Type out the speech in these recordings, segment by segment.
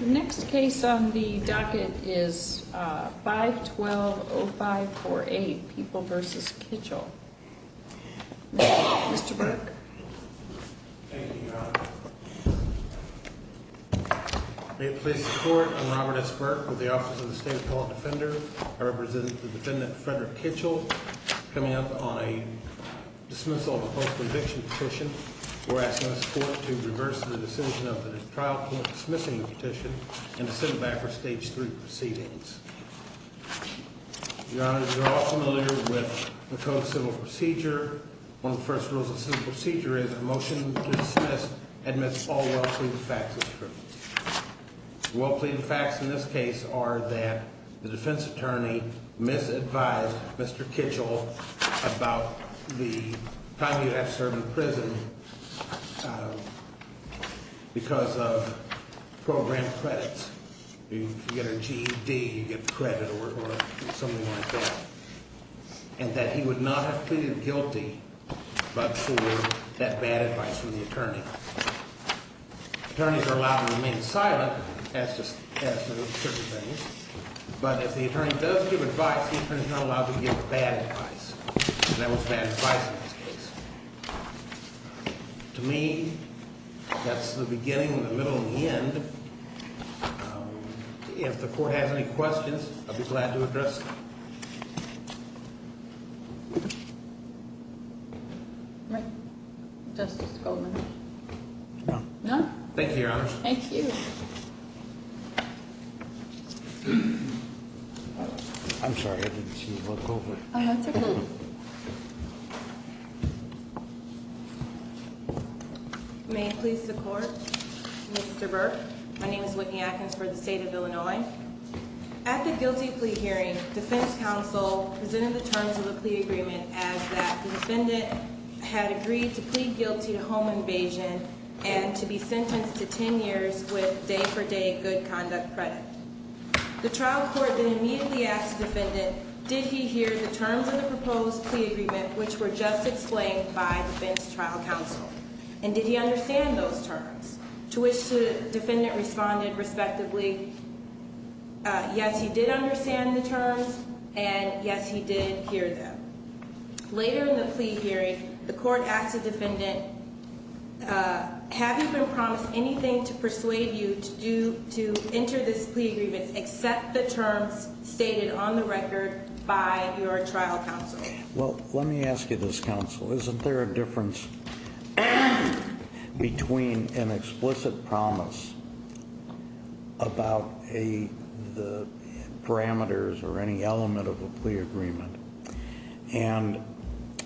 Next case on the docket is 512-0548, People v. Kitchell. Mr. Burke. Thank you, Your Honor. May it please the Court, I'm Robert S. Burke with the Office of the State Appellate Defender. I represent the defendant, Frederick Kitchell, coming up on a dismissal of a postal eviction petition. We're asking this Court to reverse the decision of the trial court dismissing the petition and to sit it back for Stage 3 proceedings. Your Honor, you're all familiar with McCove Civil Procedure. One of the first rules of Civil Procedure is a motion to dismiss admits all well-pleaded facts as true. Well-pleaded facts in this case are that the defense attorney misadvised Mr. Kitchell about the time he would have served in prison because of program credits. You get a GED, you get credit or something like that. And that he would not have pleaded guilty but for that bad advice from the attorney. Attorneys are allowed to remain silent as to certain things. But if the attorney does give advice, the attorney is not allowed to give bad advice. That was bad advice in this case. To me, that's the beginning and the middle and the end. If the Court has any questions, I'd be glad to address them. Right. Justice Goldman. No. No? Thank you, Your Honor. Thank you. I'm sorry. I didn't see the book. Oh, that's okay. May it please the Court. Mr. Burke. My name is Whitney Atkins for the State of Illinois. At the guilty plea hearing, defense counsel presented the terms of the plea agreement as that the defendant had agreed to plead guilty to home invasion and to be sentenced to 10 years with day-for-day good conduct credit. The trial court then immediately asked the defendant, did he hear the terms of the proposed plea agreement which were just explained by defense trial counsel? And did he understand those terms? To which the defendant responded respectively, yes, he did understand the terms, and yes, he did hear them. Later in the plea hearing, the court asked the defendant, have you been promised anything to persuade you to enter this plea agreement except the terms stated on the record by your trial counsel? Well, let me ask you this, counsel, isn't there a difference between an explicit promise about the parameters or any element of a plea agreement and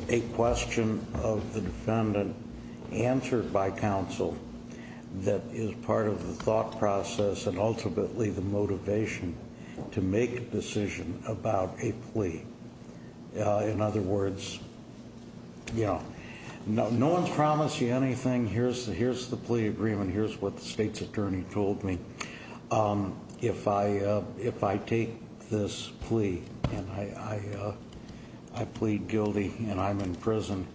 a question of the defendant answered by counsel that is part of the thought process and ultimately the motivation to make a decision about a plea? In other words, you know, no one's promised you anything, here's the plea agreement, here's what the state's attorney told me. If I take this plea and I plead guilty and I'm in prison,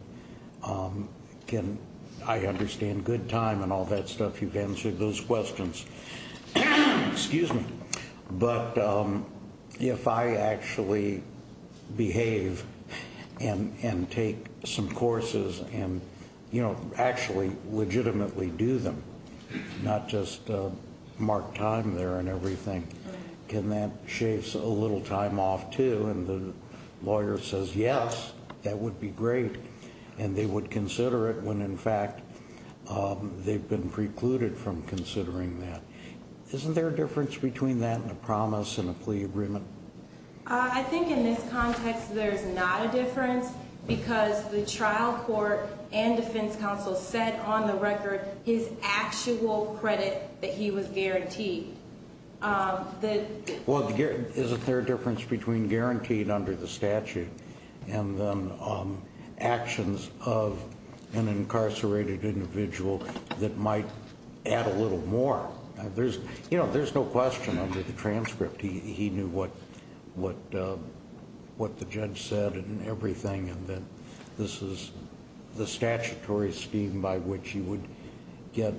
can I understand good time and all that stuff? You've answered those questions. Excuse me. But if I actually behave and take some courses and, you know, actually legitimately do them, not just mark time there and everything, can that shave a little time off too? And the lawyer says, yes, that would be great. And they would consider it when, in fact, they've been precluded from considering that. Isn't there a difference between that and a promise and a plea agreement? I think in this context there's not a difference because the trial court and defense counsel said on the record his actual credit that he was guaranteed. Well, isn't there a difference between guaranteed under the statute and then actions of an incarcerated individual that might add a little more? You know, there's no question under the transcript. He knew what the judge said and everything and that this is the statutory scheme by which he would get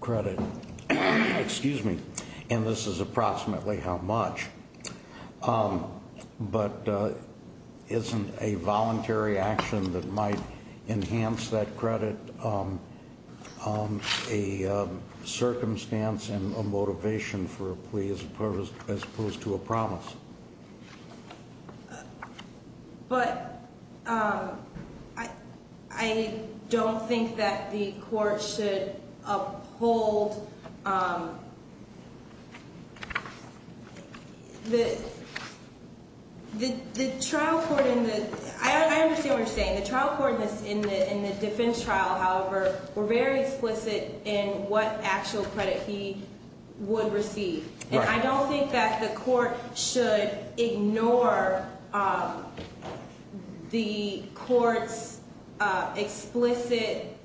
credit. Excuse me. And this is approximately how much. But isn't a voluntary action that might enhance that credit a circumstance and a motivation for a plea as opposed to a promise? But I don't think that the court should uphold the trial court in the ‑‑ I understand what you're saying. The trial court in the defense trial, however, were very explicit in what actual credit he would receive. And I don't think that the court should ignore the court's explicit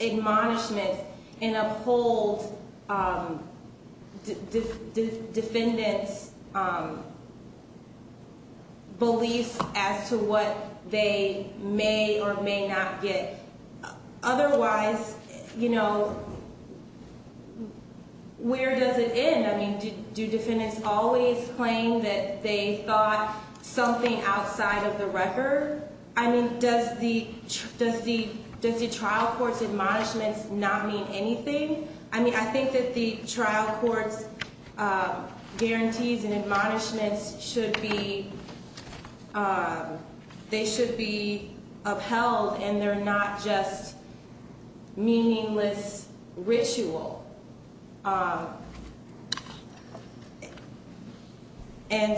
admonishment and uphold defendants' beliefs as to what they may or may not get. Otherwise, you know, where does it end? I mean, do defendants always claim that they thought something outside of the record? I mean, does the trial court's admonishments not mean anything? I mean, I think that the trial court's guarantees and admonishments should be ‑‑ they should be upheld and they're not just meaningless ritual. And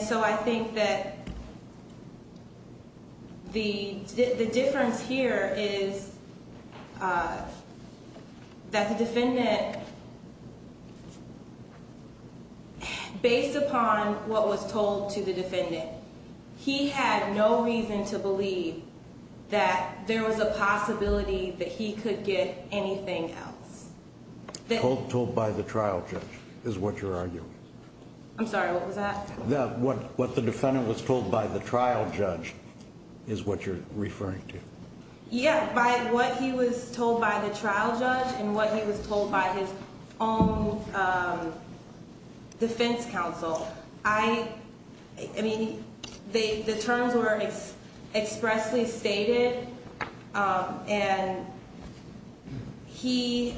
so I think that the difference here is that the defendant, based upon what was told to the defendant, he had no reason to believe that there was a possibility that he could get anything else. Told by the trial judge is what you're arguing. I'm sorry, what was that? What the defendant was told by the trial judge is what you're referring to. Yeah, by what he was told by the trial judge and what he was told by his own defense counsel. I mean, the terms were expressly stated and he,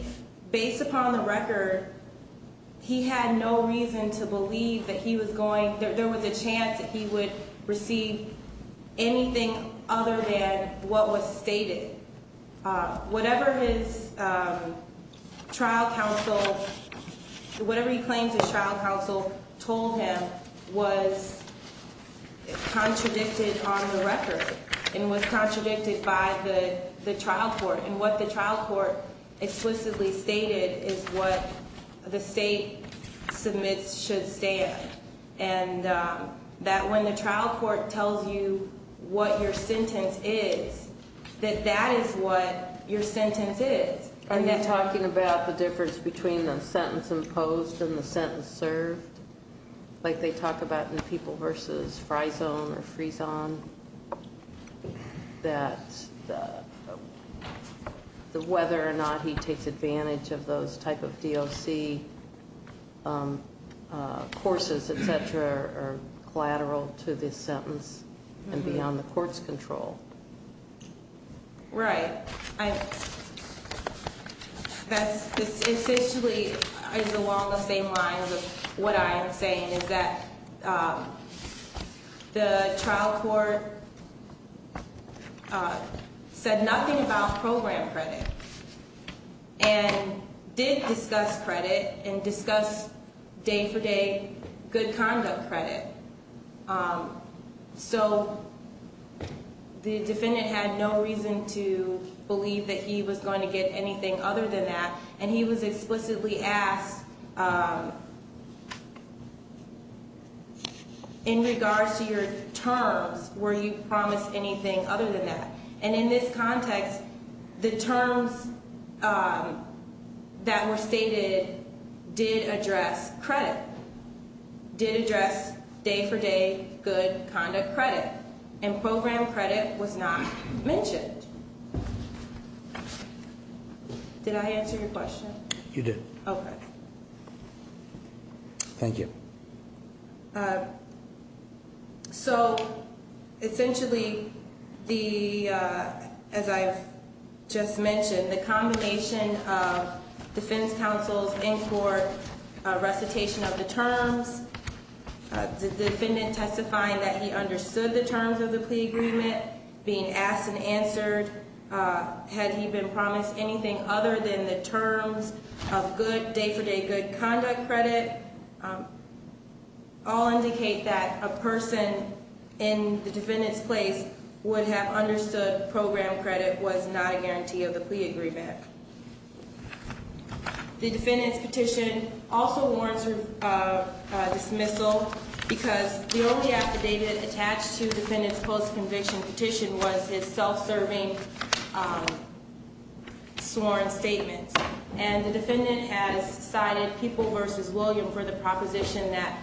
based upon the record, he had no reason to believe that he was going ‑‑ there was a chance that he would receive anything other than what was stated. Whatever his trial counsel, whatever he claims his trial counsel told him was contradicted on the record and was contradicted by the trial court. And what the trial court explicitly stated is what the state submits should stand. And that when the trial court tells you what your sentence is, that that is what your sentence is. Are you talking about the difference between the sentence imposed and the sentence served? Like they talk about in people versus Frizone or Frizon, that whether or not he takes advantage of those type of DOC courses, et cetera, are collateral to this sentence and beyond the court's control. Right. That's essentially along the same lines of what I am saying is that the trial court said nothing about program credit and did discuss credit and discuss day for day good conduct credit. So the defendant had no reason to believe that he was going to get anything other than that and he was explicitly asked in regards to your terms, were you promised anything other than that? And in this context, the terms that were stated did address credit, did address day for day good conduct credit and program credit was not mentioned. Did I answer your question? You did. Okay. Thank you. So essentially the, as I've just mentioned, the combination of defense counsel's in court recitation of the terms, the defendant testifying that he understood the terms of the plea agreement, being asked and answered, had he been promised anything other than the terms of good day for day good conduct credit. All indicate that a person in the defendant's place would have understood program credit was not a guarantee of the plea agreement. The defendant's petition also warrants a dismissal because the only affidavit attached to the defendant's post conviction petition was his self-serving sworn statements. And the defendant has cited people versus William for the proposition that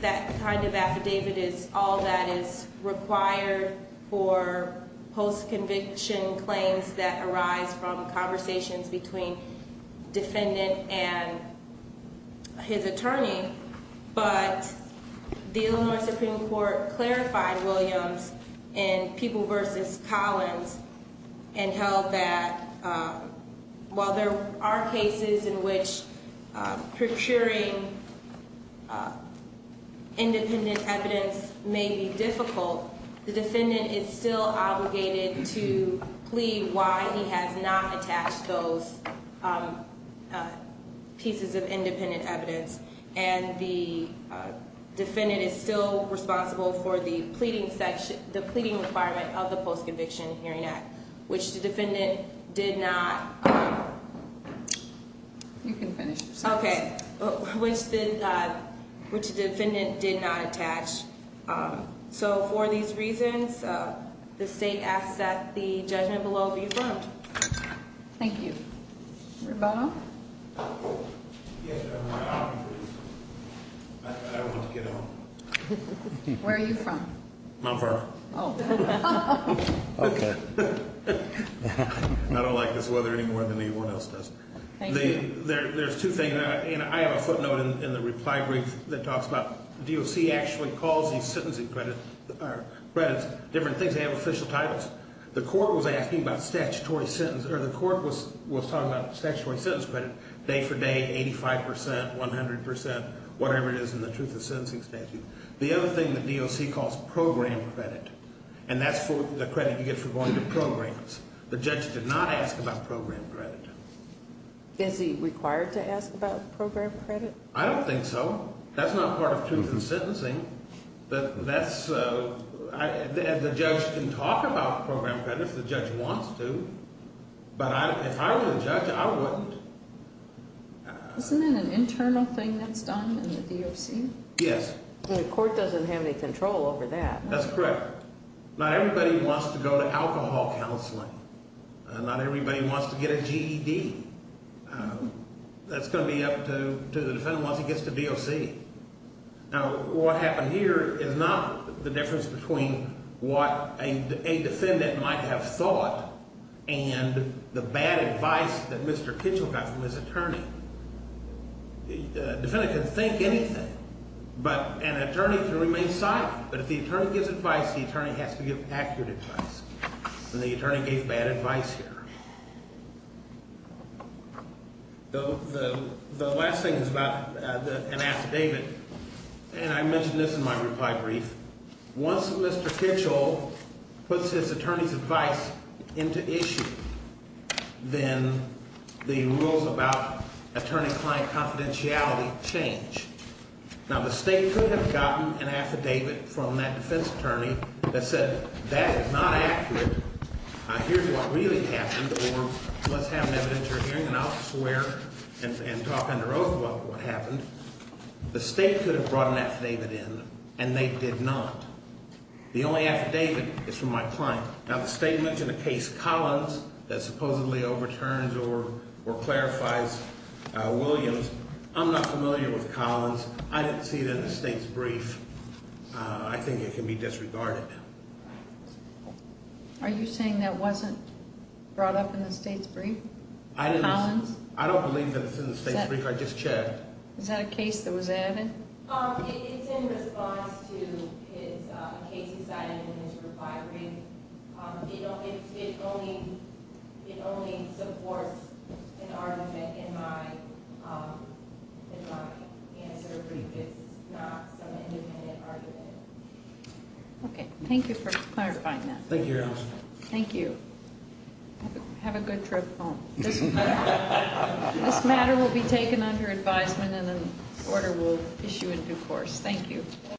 that kind of affidavit is all that is required for post conviction claims that arise from conversations between defendant and his attorney. But the Illinois Supreme Court clarified Williams and people versus Collins and held that while there are cases in which procuring independent evidence may be difficult, the defendant is still obligated to plea why he has not attached those pieces of independent evidence. And the defendant is still responsible for the pleading requirement of the Post Conviction Hearing Act, which the defendant did not. You can finish your sentence. Okay, which the defendant did not attach. So for these reasons, the state asks that the judgment below be affirmed. Thank you. Rebono? Yes, I want to get home. Where are you from? Mount Vernon. Oh. Okay. I don't like this weather anymore than anyone else does. Thank you. There's two things. And I have a footnote in the reply brief that talks about DOC actually calls these sentencing credits different things. They have official titles. The court was talking about statutory sentence credit day for day, 85 percent, 100 percent, whatever it is in the truth of sentencing statute. The other thing that DOC calls program credit, and that's the credit you get for going to programs. The judge did not ask about program credit. Is he required to ask about program credit? I don't think so. That's not part of truth of sentencing. The judge can talk about program credit if the judge wants to, but if I were the judge, I wouldn't. Isn't it an internal thing that's done in the DOC? Yes. The court doesn't have any control over that. That's correct. Not everybody wants to go to alcohol counseling. Not everybody wants to get a GED. That's going to be up to the defendant once he gets to DOC. Now, what happened here is not the difference between what a defendant might have thought and the bad advice that Mr. Kitchell got from his attorney. The defendant can think anything, but an attorney can remain silent. But if the attorney gives advice, the attorney has to give accurate advice, and the attorney gave bad advice here. The last thing is about an affidavit, and I mentioned this in my reply brief. Once Mr. Kitchell puts his attorney's advice into issue, then the rules about attorney-client confidentiality change. Now, the state could have gotten an affidavit from that defense attorney that said that is not accurate. Here's what really happened, or let's have an evidentiary hearing, and I'll swear and talk under oath about what happened. The state could have brought an affidavit in, and they did not. The only affidavit is from my client. Now, the state mentioned a case, Collins, that supposedly overturns or clarifies Williams. I'm not familiar with Collins. I didn't see it in the state's brief. I think it can be disregarded. Are you saying that wasn't brought up in the state's brief, Collins? I don't believe that it's in the state's brief. I just checked. Is that a case that was added? It's in response to a case he cited in his reply brief. It only supports an argument in my answer brief. It's not some independent argument. Okay, thank you for clarifying that. Thank you, Your Honor. Thank you. Have a good trip home. This matter will be taken under advisement, and an order will issue in due course. Thank you.